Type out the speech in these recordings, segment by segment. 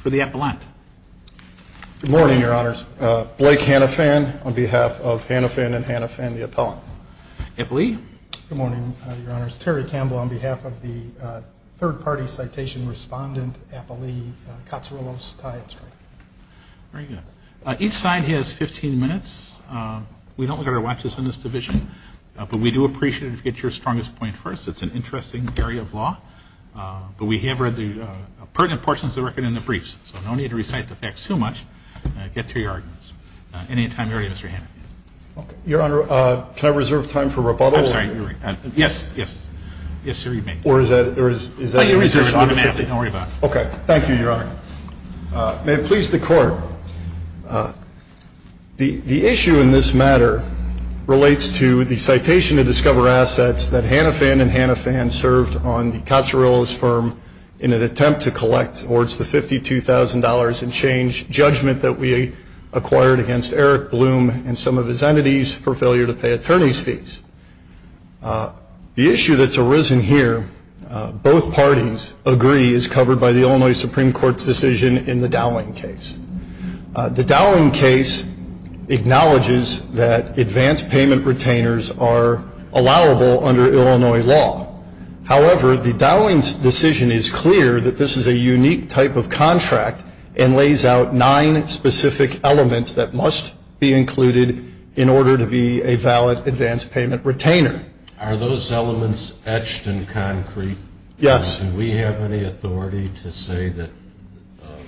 for the appellant. Good morning, Your Honors. Blake Hannafan on behalf of Hannafan and Hannafan, the appellant. Good morning, Your Honors. Terry Campbell on behalf of the third-party We don't look at our watches in this division, but we do appreciate it if you get your strongest point first. It's an interesting area of law. But we have read the pertinent portions of the record in the briefs, so no need to recite the facts too much. Get to your arguments. Any time you're ready, Mr. Hanna. Your Honor, can I reserve time for rebuttal? I'm sorry. Yes, yes. Yes, sir, you may. Thank you, Your Honor. May it please the Court, the issue in this matter relates to the citation of Discover Assets that Hannafan and Hannafan served on the Cozzarillo's firm in an attempt to collect towards the $52,000 in change judgment that we acquired against Eric Bloom and some of his entities for failure to pay attorney's fees. The issue that's arisen here, both parties agree, is covered by the Illinois Supreme Court's decision in the Dowling case. The Dowling case acknowledges that advance payment retainers are allowable under Illinois law. However, the Dowling decision is clear that this is a unique type of contract and lays out nine specific elements that must be included in order to be a valid advance payment retainer. Are those elements etched in concrete? Yes. Do we have any authority to say that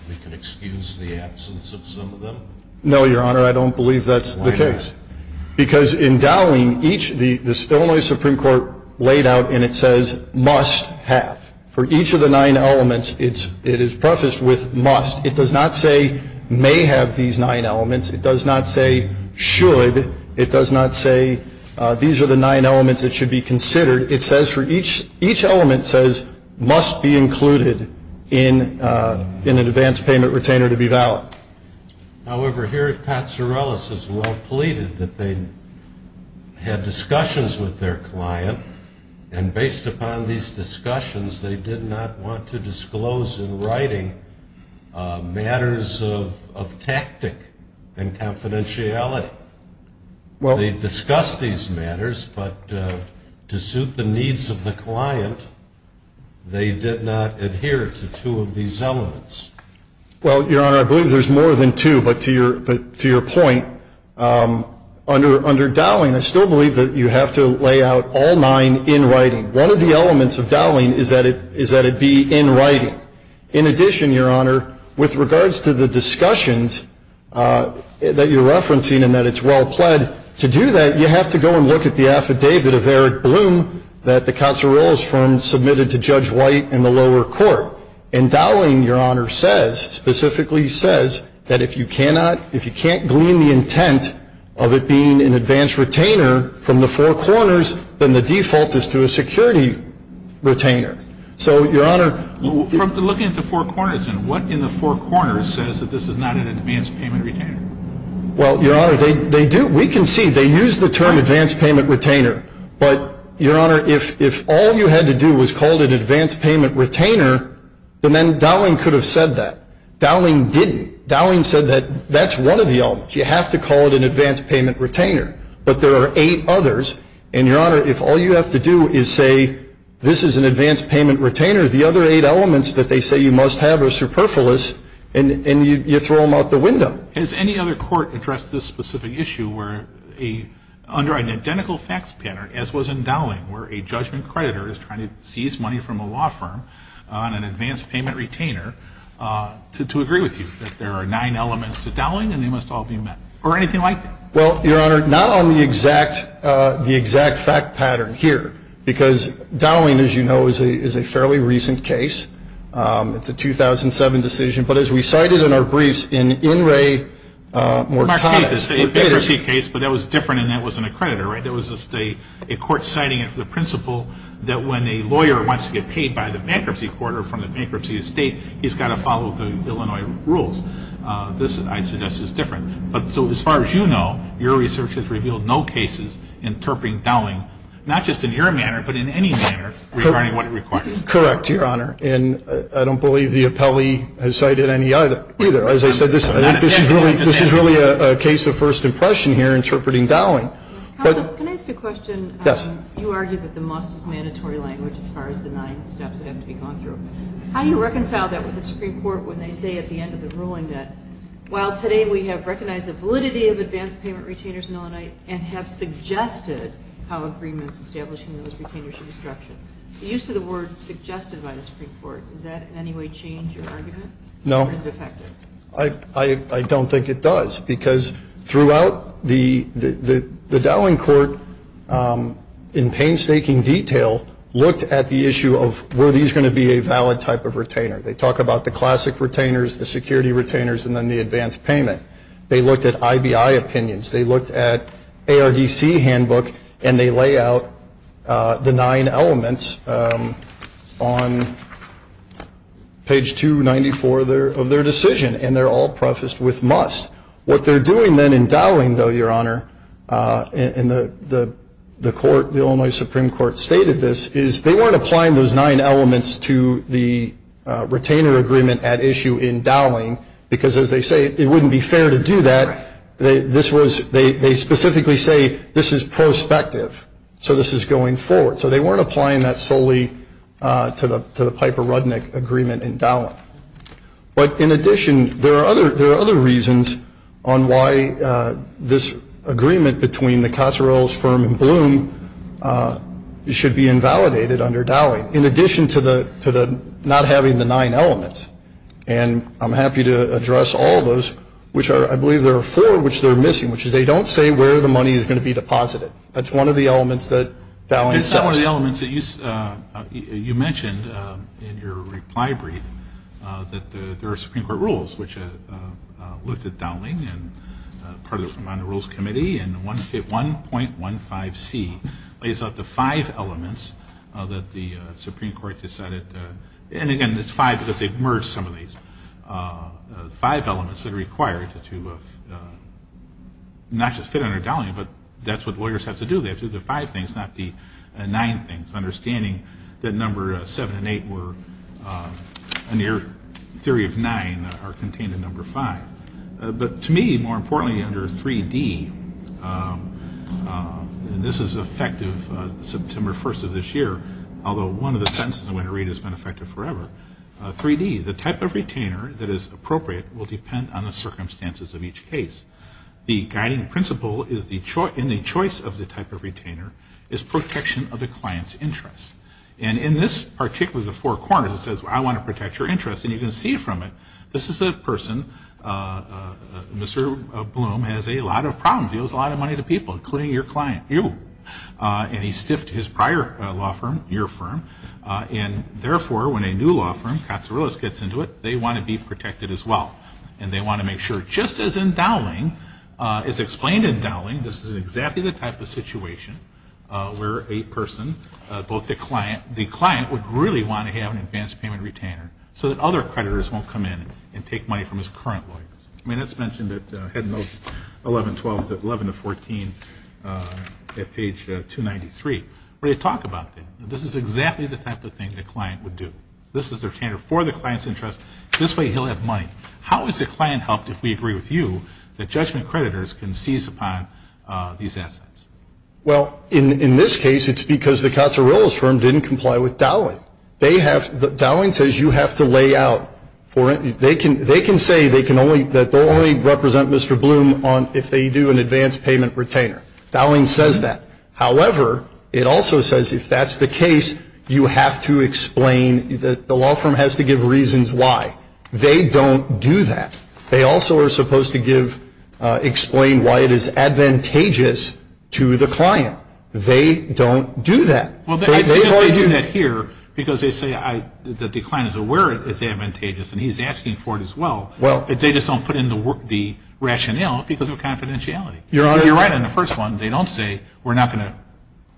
we can excuse the absence of some of them? No, Your Honor, I don't believe that's the case. Why not? Because in Dowling, the Illinois Supreme Court laid out and it says must have. For each of the nine elements, it is prefaced with must. It does not say may have these nine elements. It does not say should. It does not say these are the nine elements that should be considered. It says for each element says must be included in an advance payment retainer to be valid. However, here Katsourelis has well pleaded that they had discussions with their client and based upon these discussions, they did not want to disclose in writing matters of tactic and confidentiality. They discussed these matters, but to suit the needs of the client, they did not adhere to two of these elements. Well, Your Honor, I believe there's more than two, but to your point, under Dowling, I still believe that you have to lay out all nine in writing. One of the elements of Dowling is that it be in writing. In addition, Your Honor, with regards to the discussions that you're referencing and that it's well pled, to do that, you have to go and look at the affidavit of Eric Bloom that the Katsourelis firm submitted to Judge White in the lower court. And Dowling, Your Honor, says, specifically says that if you cannot, if you can't glean the intent of it being an advance retainer from the four corners, then the default is to a security retainer. So, Your Honor. Looking at the four corners, then, what in the four corners says that this is not an advance payment retainer? Well, Your Honor, they do. We can see they use the term advance payment retainer. But, Your Honor, if all you had to do was call it an advance payment retainer, then Dowling could have said that. Dowling didn't. Dowling said that that's one of the elements. You have to call it an advance payment retainer. But there are eight others. And, Your Honor, if all you have to do is say this is an advance payment retainer, the other eight elements that they say you must have are superfluous, and you throw them out the window. Has any other court addressed this specific issue where a, under an identical facts pattern, as was in Dowling, where a judgment creditor is trying to seize money from a law firm on an advance payment retainer to agree with you, that there are nine elements to Dowling and they must all be met, or anything like that? Well, Your Honor, not on the exact, the exact fact pattern here, because Dowling, as you know, is a fairly recent case. It's a 2007 decision. But as we cited in our briefs, in In re Mortada. A bankruptcy case, but that was different and that was an accreditor, right? That was a court citing the principle that when a lawyer wants to get paid by the bankruptcy court or from the bankruptcy estate, he's got to follow the Illinois rules. This, I suggest, is different. So as far as you know, your research has revealed no cases interpreting Dowling, not just in your manner, but in any manner, regarding what it requires. Correct, Your Honor. And I don't believe the appellee has cited any either. As I said, this is really a case of first impression here, interpreting Dowling. Counsel, can I ask a question? Yes. You argue that the must is mandatory language as far as the nine steps that have to be gone through. How do you reconcile that with the Supreme Court when they say at the end of the ruling that, while today we have recognized the validity of advance payment retainers in Illinois and have suggested how agreements establishing those retainers should be structured, the use of the word suggested by the Supreme Court, does that in any way change your argument? No. Or is it effective? I don't think it does because throughout the Dowling court, in painstaking detail, looked at the issue of were these going to be a valid type of retainer. They talk about the classic retainers, the security retainers, and then the advance payment. They looked at IBI opinions. They looked at ARDC handbook, and they lay out the nine elements on page 294 of their decision, and they're all prefaced with must. What they're doing then in Dowling, though, Your Honor, and the Illinois Supreme Court stated this, is they weren't applying those nine elements to the retainer agreement at issue in Dowling because, as they say, it wouldn't be fair to do that. Right. They specifically say this is prospective, so this is going forward. So they weren't applying that solely to the Piper-Rudnick agreement in Dowling. But in addition, there are other reasons on why this agreement between the Cotzerell's firm and Bloom should be invalidated under Dowling, in addition to not having the nine elements. And I'm happy to address all those, which are, I believe there are four which they're missing, which is they don't say where the money is going to be deposited. That's one of the elements that Dowling says. It's one of the elements that you mentioned in your reply brief that there are Supreme Court rules, which looked at Dowling and part of it was on the Rules Committee, and 1.15C lays out the five elements that the Supreme Court decided to, and again, it's five because they've merged some of these five elements that are required to, not just fit under Dowling, but that's what lawyers have to do. They have to do the five things, not the nine things, understanding that number seven and eight were, in your theory of nine, are contained in number five. But to me, more importantly, under 3D, and this is effective September 1st of this year, although one of the sentences I'm going to read has been effective forever, 3D, the type of retainer that is appropriate will depend on the circumstances of each case. The guiding principle in the choice of the type of retainer is protection of the client's interest. And in this, particularly the four corners, it says, well, I want to protect your interest. And you can see from it, this is a person, Mr. Bloom has a lot of problems. He owes a lot of money to people, including your client, you. And he's stiffed his prior law firm, your firm. And, therefore, when a new law firm, Katsourilis, gets into it, they want to be protected as well. And they want to make sure, just as in Dowling, as explained in Dowling, this is exactly the type of situation where a person, both the client, the client would really want to have an advanced payment retainer, so that other creditors won't come in and take money from his current lawyers. I mean, it's mentioned at Head Notes 11-12, 11-14, at page 293, where they talk about this. This is exactly the type of thing the client would do. This is their retainer for the client's interest. This way, he'll have money. How has the client helped, if we agree with you, that judgment creditors can seize upon these assets? Well, in this case, it's because the Katsourilis firm didn't comply with Dowling. Dowling says you have to lay out for it. They can say that they'll only represent Mr. Bloom if they do an advanced payment retainer. Dowling says that. However, it also says if that's the case, you have to explain that the law firm has to give reasons why. They don't do that. They also are supposed to explain why it is advantageous to the client. They don't do that. Well, they do that here because they say that the client is aware it's advantageous, and he's asking for it as well. They just don't put in the rationale because of confidentiality. You're right on the first one. They don't say, we're not going to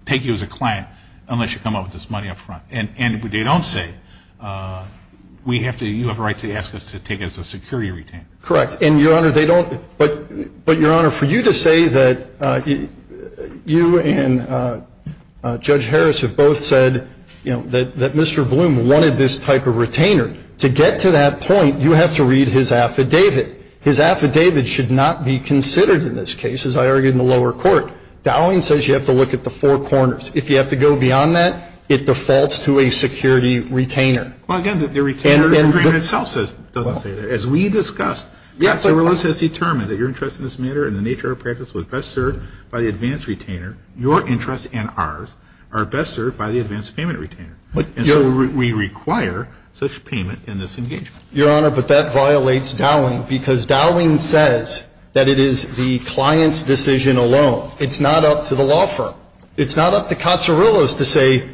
take you as a client unless you come up with this money up front. And they don't say, you have a right to ask us to take it as a security retainer. Correct. And, Your Honor, they don't. But, Your Honor, for you to say that you and Judge Harris have both said that Mr. Bloom wanted this type of retainer, to get to that point, you have to read his affidavit. His affidavit should not be considered in this case, as I argued in the lower court. Dowling says you have to look at the four corners. If you have to go beyond that, it defaults to a security retainer. Well, again, the retainer agreement itself doesn't say that. As we discussed, Cotzer-Willis has determined that your interest in this matter and the nature of our practice was best served by the advanced retainer. Your interest and ours are best served by the advanced payment retainer. And so we require such payment in this engagement. Your Honor, but that violates Dowling because Dowling says that it is the client's decision alone. It's not up to the law firm. It's not up to Cotzer-Willis to say,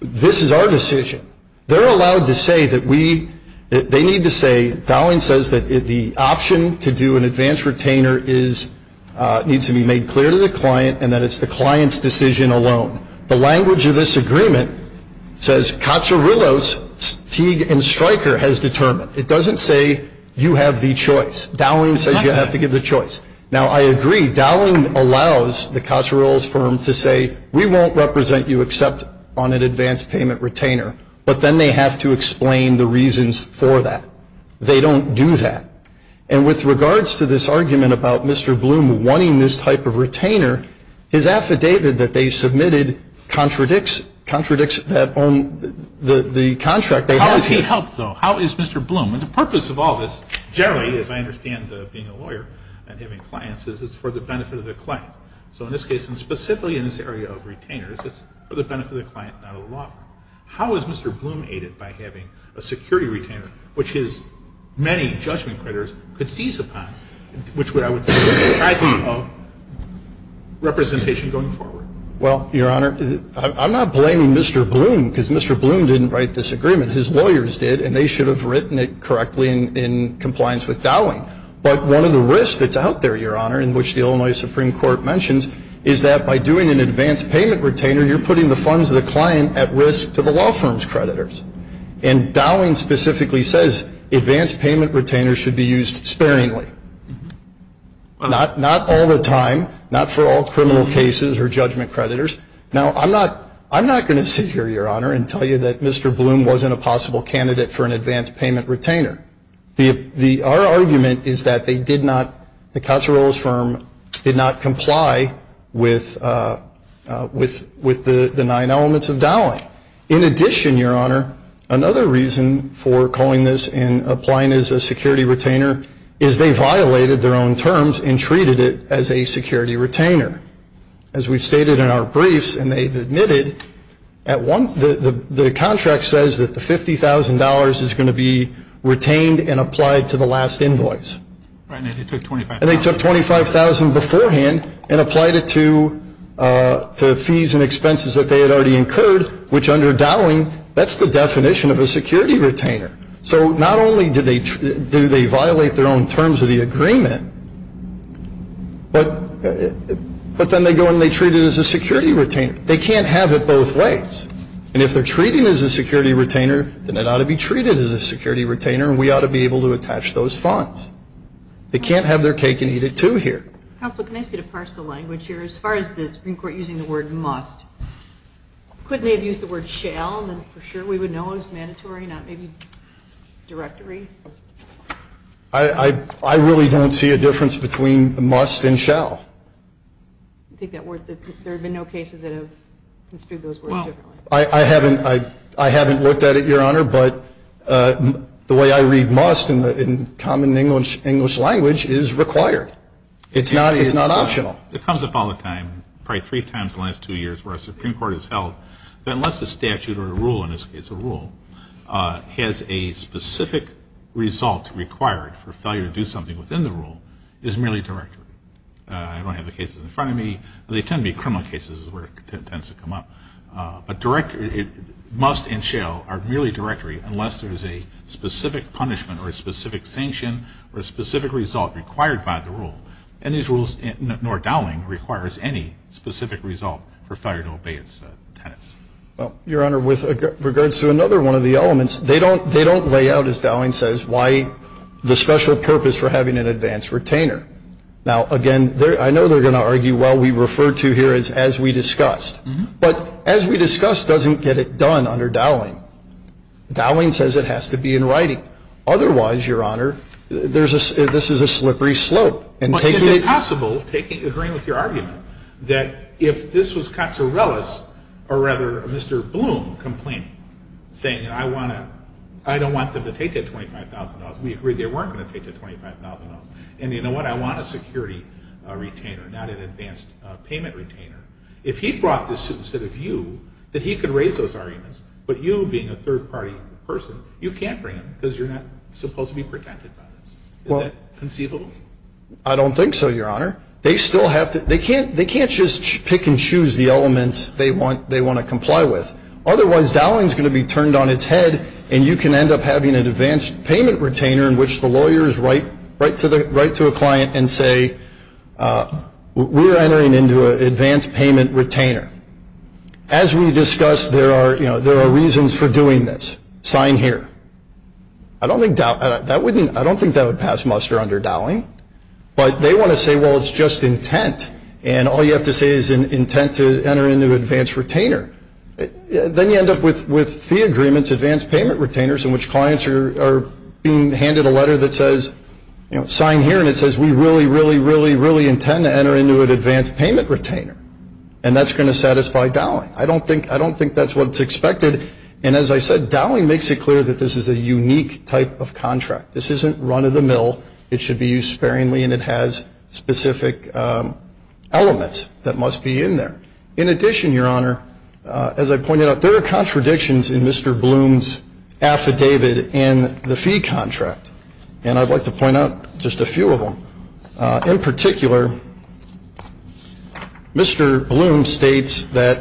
this is our decision. They're allowed to say that we, they need to say, Dowling says that the option to do an advanced retainer needs to be made clear to the client and that it's the client's decision alone. The language of this agreement says Cotzer-Willis, Teague and Stryker has determined. It doesn't say you have the choice. Dowling says you have to give the choice. Now, I agree, Dowling allows the Cotzer-Willis firm to say, we won't represent you except on an advanced payment retainer. But then they have to explain the reasons for that. They don't do that. And with regards to this argument about Mr. Bloom wanting this type of retainer, his affidavit that they submitted contradicts the contract they have here. How does he help, though? How is Mr. Bloom? And the purpose of all this generally, as I understand being a lawyer and having clients, is it's for the benefit of the client. So in this case, and specifically in this area of retainers, it's for the benefit of the client, not a law firm. How is Mr. Bloom aided by having a security retainer, which his many judgment critters could seize upon, which would I would think would be the type of representation going forward? Well, Your Honor, I'm not blaming Mr. Bloom because Mr. Bloom didn't write this agreement. His lawyers did, and they should have written it correctly in compliance with Dowling. But one of the risks that's out there, Your Honor, in which the Illinois Supreme Court mentions, is that by doing an advance payment retainer, you're putting the funds of the client at risk to the law firm's creditors. And Dowling specifically says advance payment retainers should be used sparingly. Not all the time. Not for all criminal cases or judgment creditors. Now, I'm not going to sit here, Your Honor, and tell you that Mr. Bloom wasn't a possible candidate for an advance payment retainer. Our argument is that they did not, the Cozzaro's firm, did not comply with the nine elements of Dowling. In addition, Your Honor, another reason for calling this and applying it as a security retainer, is they violated their own terms and treated it as a security retainer. As we've stated in our briefs, and they've admitted, the contract says that the $50,000 is going to be retained and applied to the last invoice. Right, and they took $25,000. And they took $25,000 beforehand and applied it to fees and expenses that they had already incurred, which under Dowling, that's the definition of a security retainer. So not only do they violate their own terms of the agreement, but then they go and they treat it as a security retainer. They can't have it both ways. And if they're treating it as a security retainer, then it ought to be treated as a security retainer, and we ought to be able to attach those funds. They can't have their cake and eat it, too, here. Counsel, can I ask you to parse the language here? As far as the Supreme Court using the word must, couldn't they have used the word shall, and then for sure we would know it was mandatory, not maybe directory? I really don't see a difference between must and shall. There have been no cases that have construed those words differently. I haven't looked at it, Your Honor, but the way I read must in common English language is required. It's not optional. It comes up all the time, probably three times in the last two years where a Supreme Court has held that unless a statute or a rule, in this case a rule, is merely directory. I don't have the cases in front of me. They tend to be criminal cases is where it tends to come up. But must and shall are merely directory unless there is a specific punishment or a specific sanction or a specific result required by the rule. And these rules, nor Dowling, requires any specific result for failure to obey its tenets. Well, Your Honor, with regards to another one of the elements, they don't lay out, as Dowling says, why the special purpose for having an advanced retainer. Now, again, I know they're going to argue, well, we refer to here as as we discussed. But as we discussed doesn't get it done under Dowling. Dowling says it has to be in writing. Otherwise, Your Honor, this is a slippery slope. But is it possible, agreeing with your argument, that if this was Katsourellis or rather Mr. Bloom complaining, saying, you know, I don't want them to take that $25,000. We agree they weren't going to take that $25,000. And you know what, I want a security retainer, not an advanced payment retainer. If he brought this suit instead of you, that he could raise those arguments, but you being a third-party person, you can't bring them because you're not supposed to be protected by this. Is that conceivable? I don't think so, Your Honor. They can't just pick and choose the elements they want to comply with. Otherwise, Dowling is going to be turned on its head, and you can end up having an advanced payment retainer in which the lawyers write to a client and say, we're entering into an advanced payment retainer. As we discussed, there are reasons for doing this. Sign here. I don't think that would pass muster under Dowling. But they want to say, well, it's just intent, and all you have to say is intent to enter into an advanced retainer. Then you end up with fee agreements, advanced payment retainers, in which clients are being handed a letter that says, you know, sign here, and it says we really, really, really, really intend to enter into an advanced payment retainer. And that's going to satisfy Dowling. I don't think that's what's expected. And as I said, Dowling makes it clear that this is a unique type of contract. This isn't run-of-the-mill. It should be used sparingly, and it has specific elements that must be in there. In addition, Your Honor, as I pointed out, there are contradictions in Mr. Bloom's affidavit and the fee contract. And I'd like to point out just a few of them. In particular, Mr. Bloom states that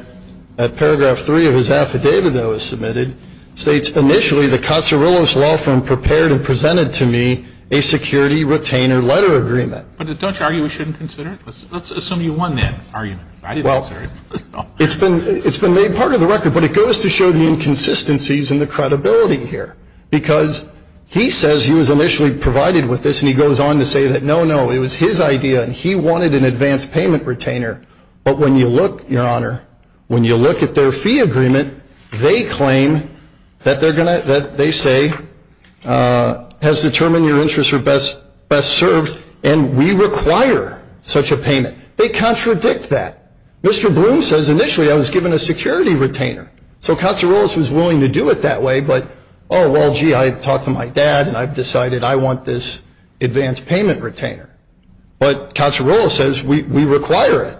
paragraph three of his affidavit that was submitted states, initially, the Cozzarillos Law Firm prepared and presented to me a security retainer letter agreement. But don't you argue we shouldn't consider it? Let's assume you won that argument. Well, it's been made part of the record, but it goes to show the inconsistencies in the credibility here. Because he says he was initially provided with this, and he goes on to say that, no, no, it was his idea, and he wanted an advanced payment retainer. But when you look, Your Honor, when you look at their fee agreement, they claim that they're going to, that they say has determined your interests are best served, and we require such a payment. They contradict that. Mr. Bloom says, initially, I was given a security retainer. So Cozzarillos was willing to do it that way, but, oh, well, gee, I talked to my dad, and I've decided I want this advanced payment retainer. But Cozzarillos says, we require it.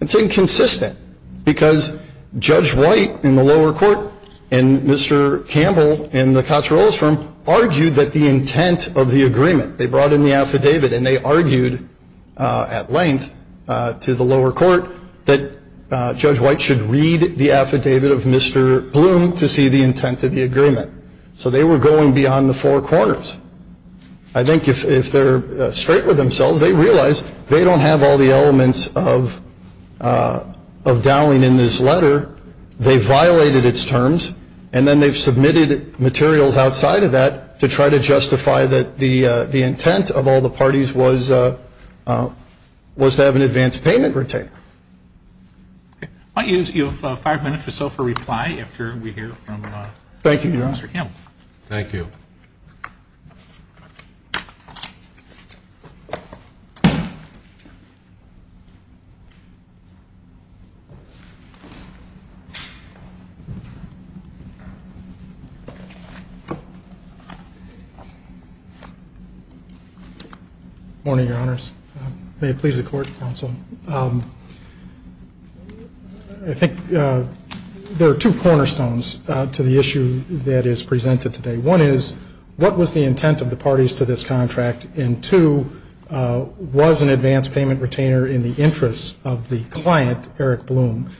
It's inconsistent because Judge White in the lower court and Mr. Campbell in the Cozzarillos Firm argued that the intent of the agreement, they brought in the affidavit, and they argued at length to the lower court that Judge White should read the affidavit of Mr. Bloom to see the intent of the agreement. So they were going beyond the four corners. I think if they're straight with themselves, they realize they don't have all the elements of Dowling in this letter. They violated its terms, and then they've submitted materials outside of that to try to justify that the intent of all the parties was to have an advanced payment retainer. I'll give you five minutes or so for reply after we hear from Mr. Campbell. Thank you, Your Honor. Thank you. Good morning, Your Honors. May it please the Court, Counsel. I think there are two cornerstones to the issue that is presented today. One is, what was the intent of the parties to this contract? And two, was an advanced payment retainer in the interest of the client, Eric Bloom?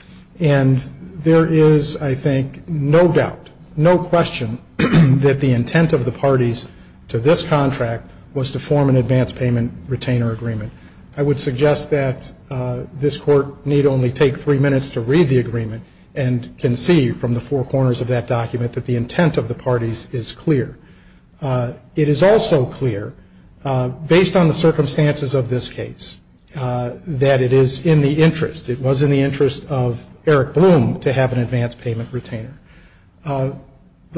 And there is, I think, no doubt, no question, that the intent of the parties to this contract was to form an advanced payment retainer agreement. I would suggest that this Court need only take three minutes to read the agreement and can see from the four corners of that document that the intent of the parties is clear. It is also clear, based on the circumstances of this case, that it is in the interest, it was in the interest of Eric Bloom to have an advanced payment retainer. The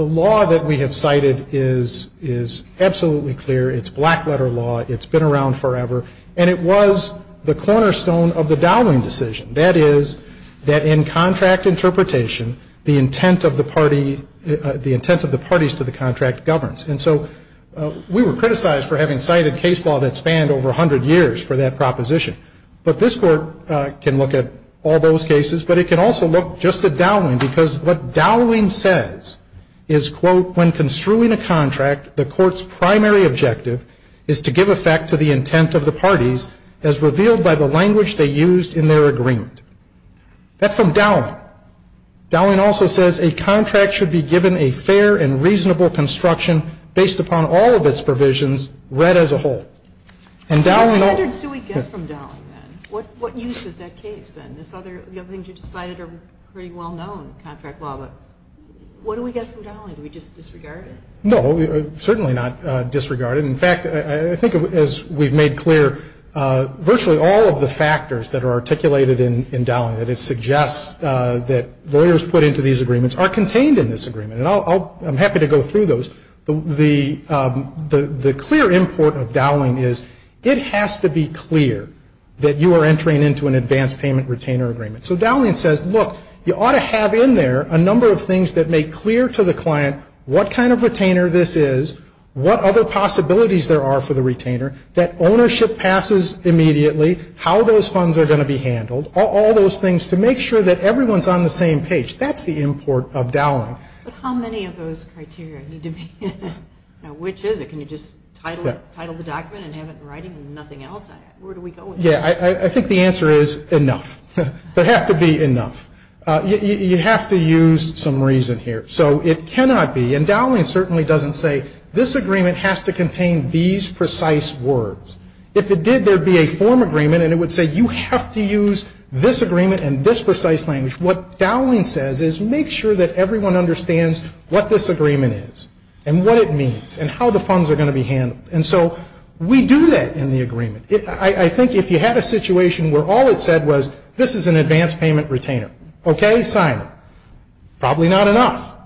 law that we have cited is absolutely clear. It's black-letter law. It's been around forever. And it was the cornerstone of the Dowling decision. That is, that in contract interpretation, the intent of the parties to the contract governs. And so we were criticized for having cited case law that spanned over 100 years for that proposition. But this Court can look at all those cases. But it can also look just at Dowling, because what Dowling says is, quote, when construing a contract, the Court's primary objective is to give effect to the intent of the parties as revealed by the language they used in their agreement. That's from Dowling. Dowling also says a contract should be given a fair and reasonable construction based upon all of its provisions read as a whole. And Dowling also ñ What standards do we get from Dowling, then? What use is that case, then? The other things you've cited are pretty well-known contract law. But what do we get from Dowling? Do we just disregard it? No, certainly not disregard it. In fact, I think as we've made clear, virtually all of the factors that are articulated in Dowling, that it suggests that lawyers put into these agreements, are contained in this agreement. And I'll ñ I'm happy to go through those. The clear import of Dowling is it has to be clear that you are entering into an advance payment retainer agreement. So Dowling says, look, you ought to have in there a number of things that make clear to the client what kind of retainer this is, what other possibilities there are for the retainer, that ownership passes immediately, how those funds are going to be handled, all those things to make sure that everyone's on the same page. That's the import of Dowling. But how many of those criteria need to be in there? Which is it? Can you just title the document and have it in writing and nothing else? Where do we go with this? Yeah, I think the answer is enough. There has to be enough. You have to use some reason here. So it cannot be ñ and Dowling certainly doesn't say this agreement has to contain these precise words. If it did, there'd be a form agreement and it would say you have to use this agreement in this precise language. What Dowling says is make sure that everyone understands what this agreement is and what it means and how the funds are going to be handled. And so we do that in the agreement. I think if you had a situation where all it said was this is an advance payment retainer. Okay, sign it. Probably not enough.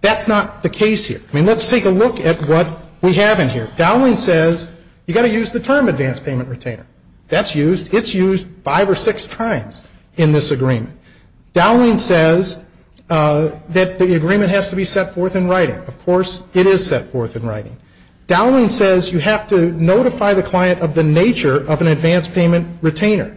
That's not the case here. I mean, let's take a look at what we have in here. Dowling says you've got to use the term advance payment retainer. That's used. It's used five or six times in this agreement. Dowling says that the agreement has to be set forth in writing. Of course, it is set forth in writing. Dowling says you have to notify the client of the nature of an advance payment retainer.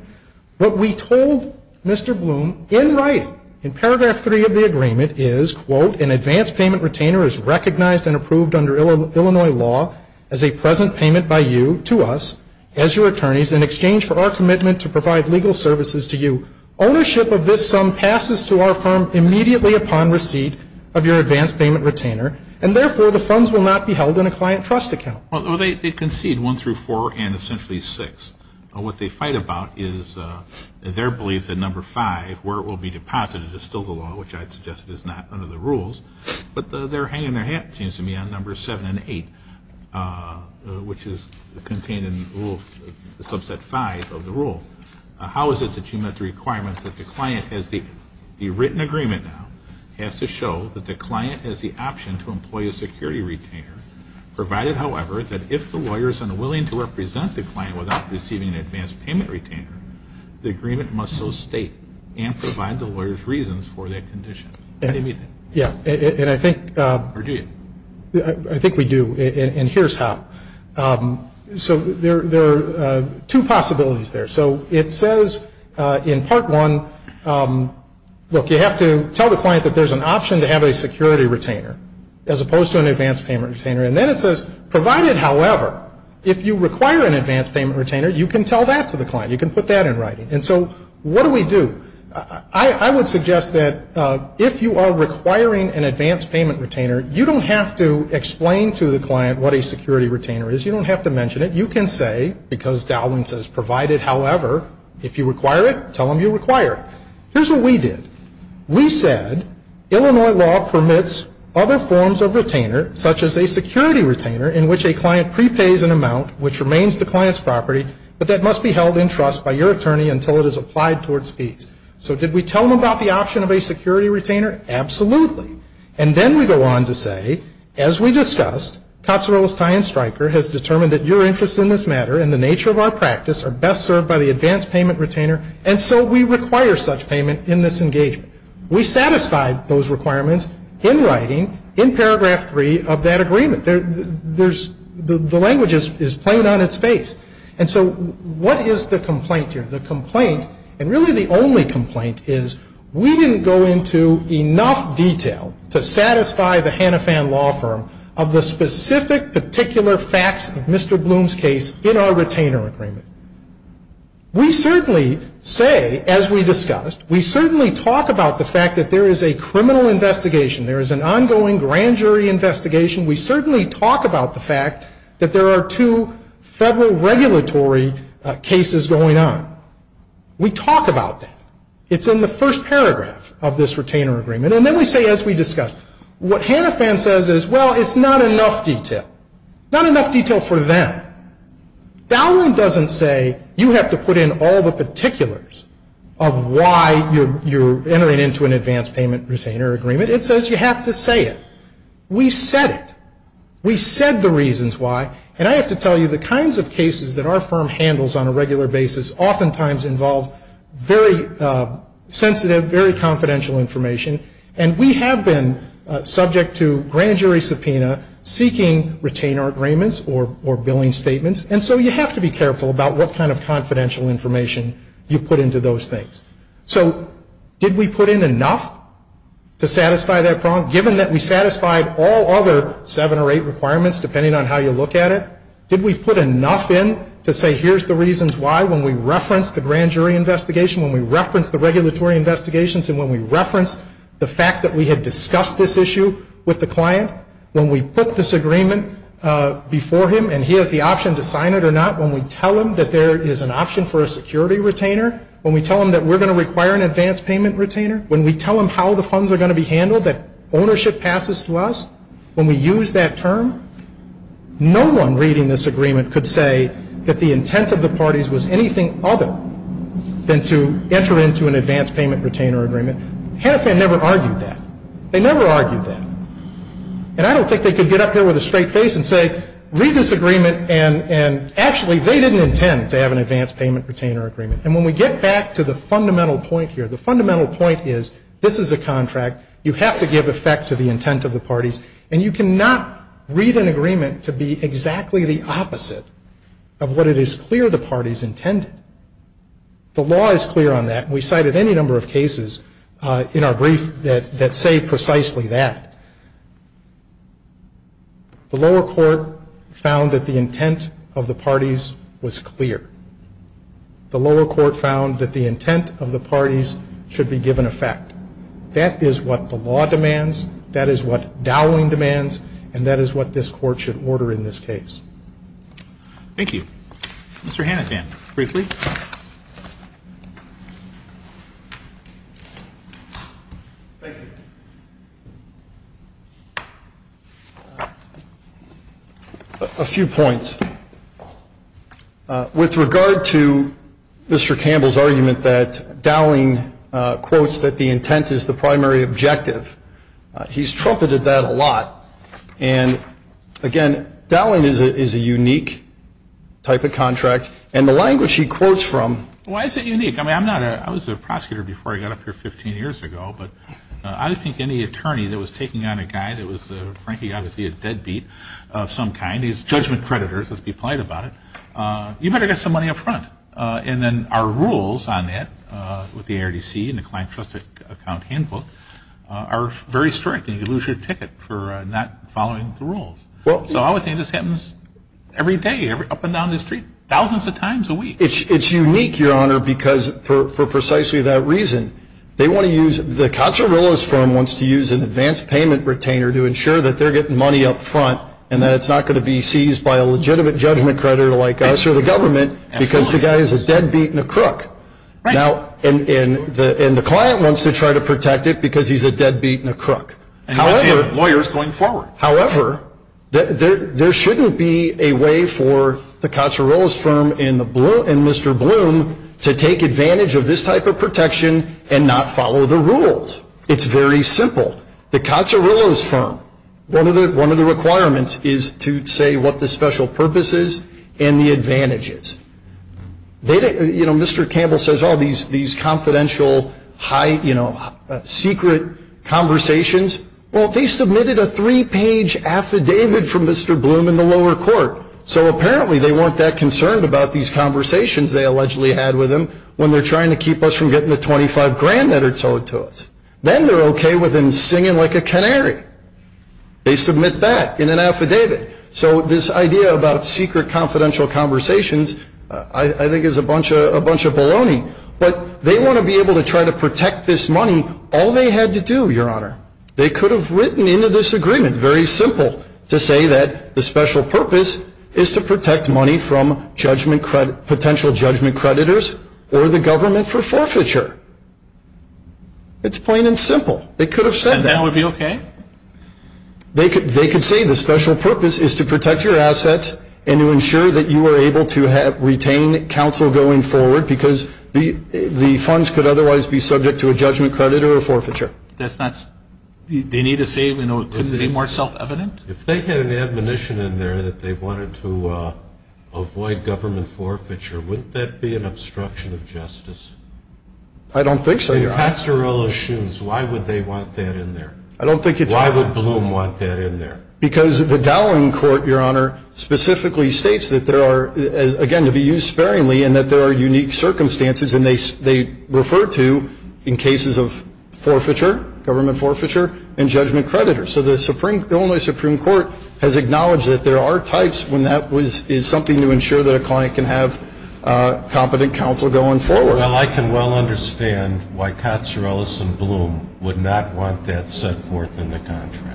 What we told Mr. Bloom in writing in paragraph three of the agreement is, quote, an advance payment retainer is recognized and approved under Illinois law as a present payment by you to us as your attorneys in exchange for our commitment to provide legal services to you. Ownership of this sum passes to our firm immediately upon receipt of your advance payment retainer, and therefore the funds will not be held in a client trust account. Well, they concede one through four and essentially six. What they fight about is their belief that number five, where it will be deposited, is still the law, which I'd suggest is not under the rules. But they're hanging their hat, it seems to me, on number seven and eight, which is contained in rule subset five of the rule. How is it that you met the requirement that the client has the written agreement now, has to show that the client has the option to employ a security retainer, provided, however, that if the lawyer is unwilling to represent the client without receiving an advance payment retainer, the agreement must so state and provide the lawyer's reasons for that condition? Yeah, and I think we do, and here's how. So there are two possibilities there. So it says in part one, look, you have to tell the client that there's an option to have a security retainer, as opposed to an advance payment retainer, and then it says, provided, however, if you require an advance payment retainer, you can tell that to the client. You can put that in writing. And so what do we do? I would suggest that if you are requiring an advance payment retainer, you don't have to explain to the client what a security retainer is. You don't have to mention it. You can say, because Dowling says provided, however, if you require it, tell them you require it. Here's what we did. We said Illinois law permits other forms of retainer, such as a security retainer, in which a client prepays an amount which remains the client's property, but that must be held in trust by your attorney until it is applied towards fees. So did we tell them about the option of a security retainer? Absolutely. And then we go on to say, as we discussed, Cozzarella's tie-in striker has determined that your interests in this matter and the nature of our practice are best served by the advance payment retainer, and so we require such payment in this engagement. We satisfied those requirements in writing in paragraph 3 of that agreement. The language is plain on its face. And so what is the complaint here? The complaint, and really the only complaint, is we didn't go into enough detail to satisfy the Hannafan Law Firm of the specific, particular facts of Mr. Bloom's case in our retainer agreement. We certainly say, as we discussed, we certainly talk about the fact that there is a criminal investigation, there is an ongoing grand jury investigation, we certainly talk about the fact that there are two federal regulatory cases going on. We talk about that. It's in the first paragraph of this retainer agreement. And then we say, as we discussed, what Hannafan says is, well, it's not enough detail. Not enough detail for them. Now, Dowland doesn't say you have to put in all the particulars of why you're entering into an advance payment retainer agreement. It says you have to say it. We said it. We said the reasons why. And I have to tell you, the kinds of cases that our firm handles on a regular basis oftentimes involve very sensitive, very confidential information, and we have been subject to grand jury subpoena seeking retainer agreements or billing statements. And so you have to be careful about what kind of confidential information you put into those things. So did we put in enough to satisfy that problem? Given that we satisfied all other seven or eight requirements, depending on how you look at it, did we put enough in to say here's the reasons why when we referenced the grand jury investigation, when we referenced the regulatory investigations, and when we referenced the fact that we had discussed this issue with the client, when we put this agreement before him and he has the option to sign it or not, when we tell him that there is an option for a security retainer, when we tell him that we're going to require an advance payment retainer, when we tell him how the funds are going to be handled, that ownership passes to us, when we use that term, no one reading this agreement could say that the intent of the parties was anything other than to enter into an advance payment retainer agreement. HANIFAN never argued that. They never argued that. And I don't think they could get up here with a straight face and say read this agreement and actually they didn't intend to have an advance payment retainer agreement. And when we get back to the fundamental point here, the fundamental point is this is a contract. You have to give effect to the intent of the parties. And you cannot read an agreement to be exactly the opposite of what it is clear the The law is clear on that. We cited any number of cases in our brief that say precisely that. The lower court found that the intent of the parties was clear. The lower court found that the intent of the parties should be given effect. That is what the law demands. That is what Dowling demands. And that is what this Court should order in this case. Thank you. Mr. Hanifan, briefly. Thank you. A few points. With regard to Mr. Campbell's argument that Dowling quotes that the intent is the primary objective, he's trumpeted that a lot. And, again, Dowling is a unique type of contract, and the language he quotes from Why is it unique? I mean, I was a prosecutor before I got up here 15 years ago, but I think any attorney that was taking on a guy that was, frankly, obviously a deadbeat of some kind, he's judgment creditors, let's be polite about it, you better get some money up front. And then our rules on that with the ARDC and the Client Trusted Account Handbook are very strict. And you lose your ticket for not following the rules. So I would think this happens every day, up and down the street, thousands of times a week. It's unique, Your Honor, because for precisely that reason, they want to use the Cotzer-Willis firm wants to use an advance payment retainer to ensure that they're getting money up front and that it's not going to be seized by a legitimate judgment creditor like us or the government because the guy is a deadbeat and a crook. And the client wants to try to protect it because he's a deadbeat and a crook. And you see lawyers going forward. However, there shouldn't be a way for the Cotzer-Willis firm and Mr. Bloom to take advantage of this type of protection and not follow the rules. It's very simple. The Cotzer-Willis firm, one of the requirements is to say what the special purpose is and the advantages. You know, Mr. Campbell says, oh, these confidential, high, you know, secret conversations. Well, they submitted a three-page affidavit from Mr. Bloom in the lower court. So apparently they weren't that concerned about these conversations they allegedly had with him when they're trying to keep us from getting the 25 grand that are owed to us. Then they're okay with him singing like a canary. They submit that in an affidavit. So this idea about secret confidential conversations, I think, is a bunch of baloney. But they want to be able to try to protect this money all they had to do, Your Honor. They could have written into this agreement, very simple, to say that the special purpose is to protect money from potential judgment creditors or the government for forfeiture. It's plain and simple. They could have said that. And that would be okay? They could say the special purpose is to protect your assets and to ensure that you are able to retain counsel going forward because the funds could otherwise be subject to a judgment credit or a forfeiture. That's not, they need to say, you know, could it be more self-evident? If they had an admonition in there that they wanted to avoid government forfeiture, wouldn't that be an obstruction of justice? I don't think so, Your Honor. If that's their own issues, why would they want that in there? Why would Bloom want that in there? Because the Dowling Court, Your Honor, specifically states that there are, again, to be used sparingly, and that there are unique circumstances, and they refer to in cases of government forfeiture and judgment creditors. So the Illinois Supreme Court has acknowledged that there are types when that is something to ensure that a client can have competent counsel going forward. Well, I can well understand why Katsourelis and Bloom would not want that set forth in the contract.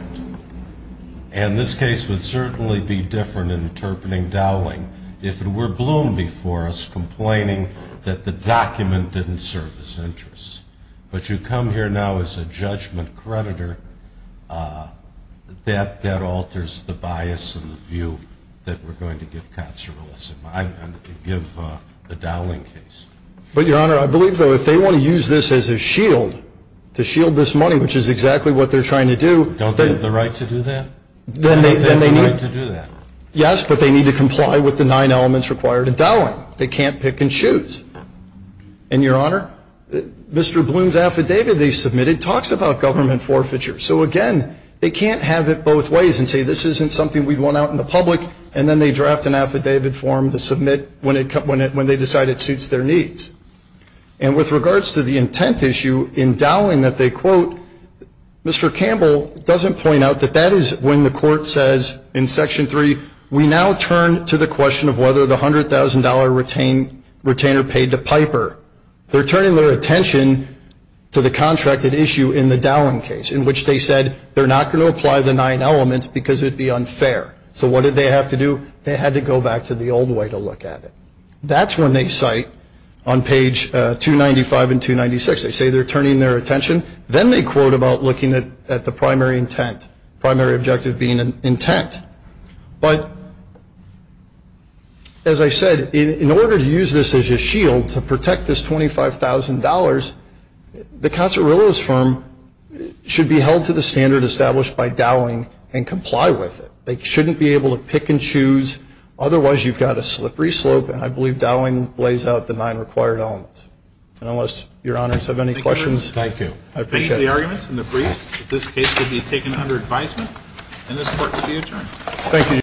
And this case would certainly be different in interpreting Dowling if it were Bloom before us complaining that the document didn't serve his interests. But you come here now as a judgment creditor. That alters the bias and the view that we're going to give Katsourelis. I'm not going to give the Dowling case. But, Your Honor, I believe, though, if they want to use this as a shield, to shield this money, which is exactly what they're trying to do — Don't they have the right to do that? Then they need — Don't they have the right to do that? Yes, but they need to comply with the nine elements required in Dowling. They can't pick and choose. And, Your Honor, Mr. Bloom's affidavit they submitted talks about government forfeiture. So, again, they can't have it both ways and say this isn't something we'd want out in the public, and then they draft an affidavit for him to submit when they decide it suits their needs. And with regards to the intent issue in Dowling that they quote, Mr. Campbell doesn't point out that that is when the court says in Section 3, we now turn to the question of whether the $100,000 retainer paid to Piper. They're turning their attention to the contracted issue in the Dowling case, in which they said they're not going to apply the nine elements because it would be unfair. So what did they have to do? They had to go back to the old way to look at it. That's when they cite on page 295 and 296. They say they're turning their attention. Then they quote about looking at the primary intent, primary objective being intent. But, as I said, in order to use this as a shield to protect this $25,000, the Casarillo's firm should be held to the standard established by Dowling and comply with it. They shouldn't be able to pick and choose. Otherwise, you've got a slippery slope, and I believe Dowling lays out the nine required elements. And unless Your Honors have any questions. Thank you. I appreciate it. Thank you for the arguments and the briefs. This case will be taken under advisement, and this court will be adjourned. Thank you.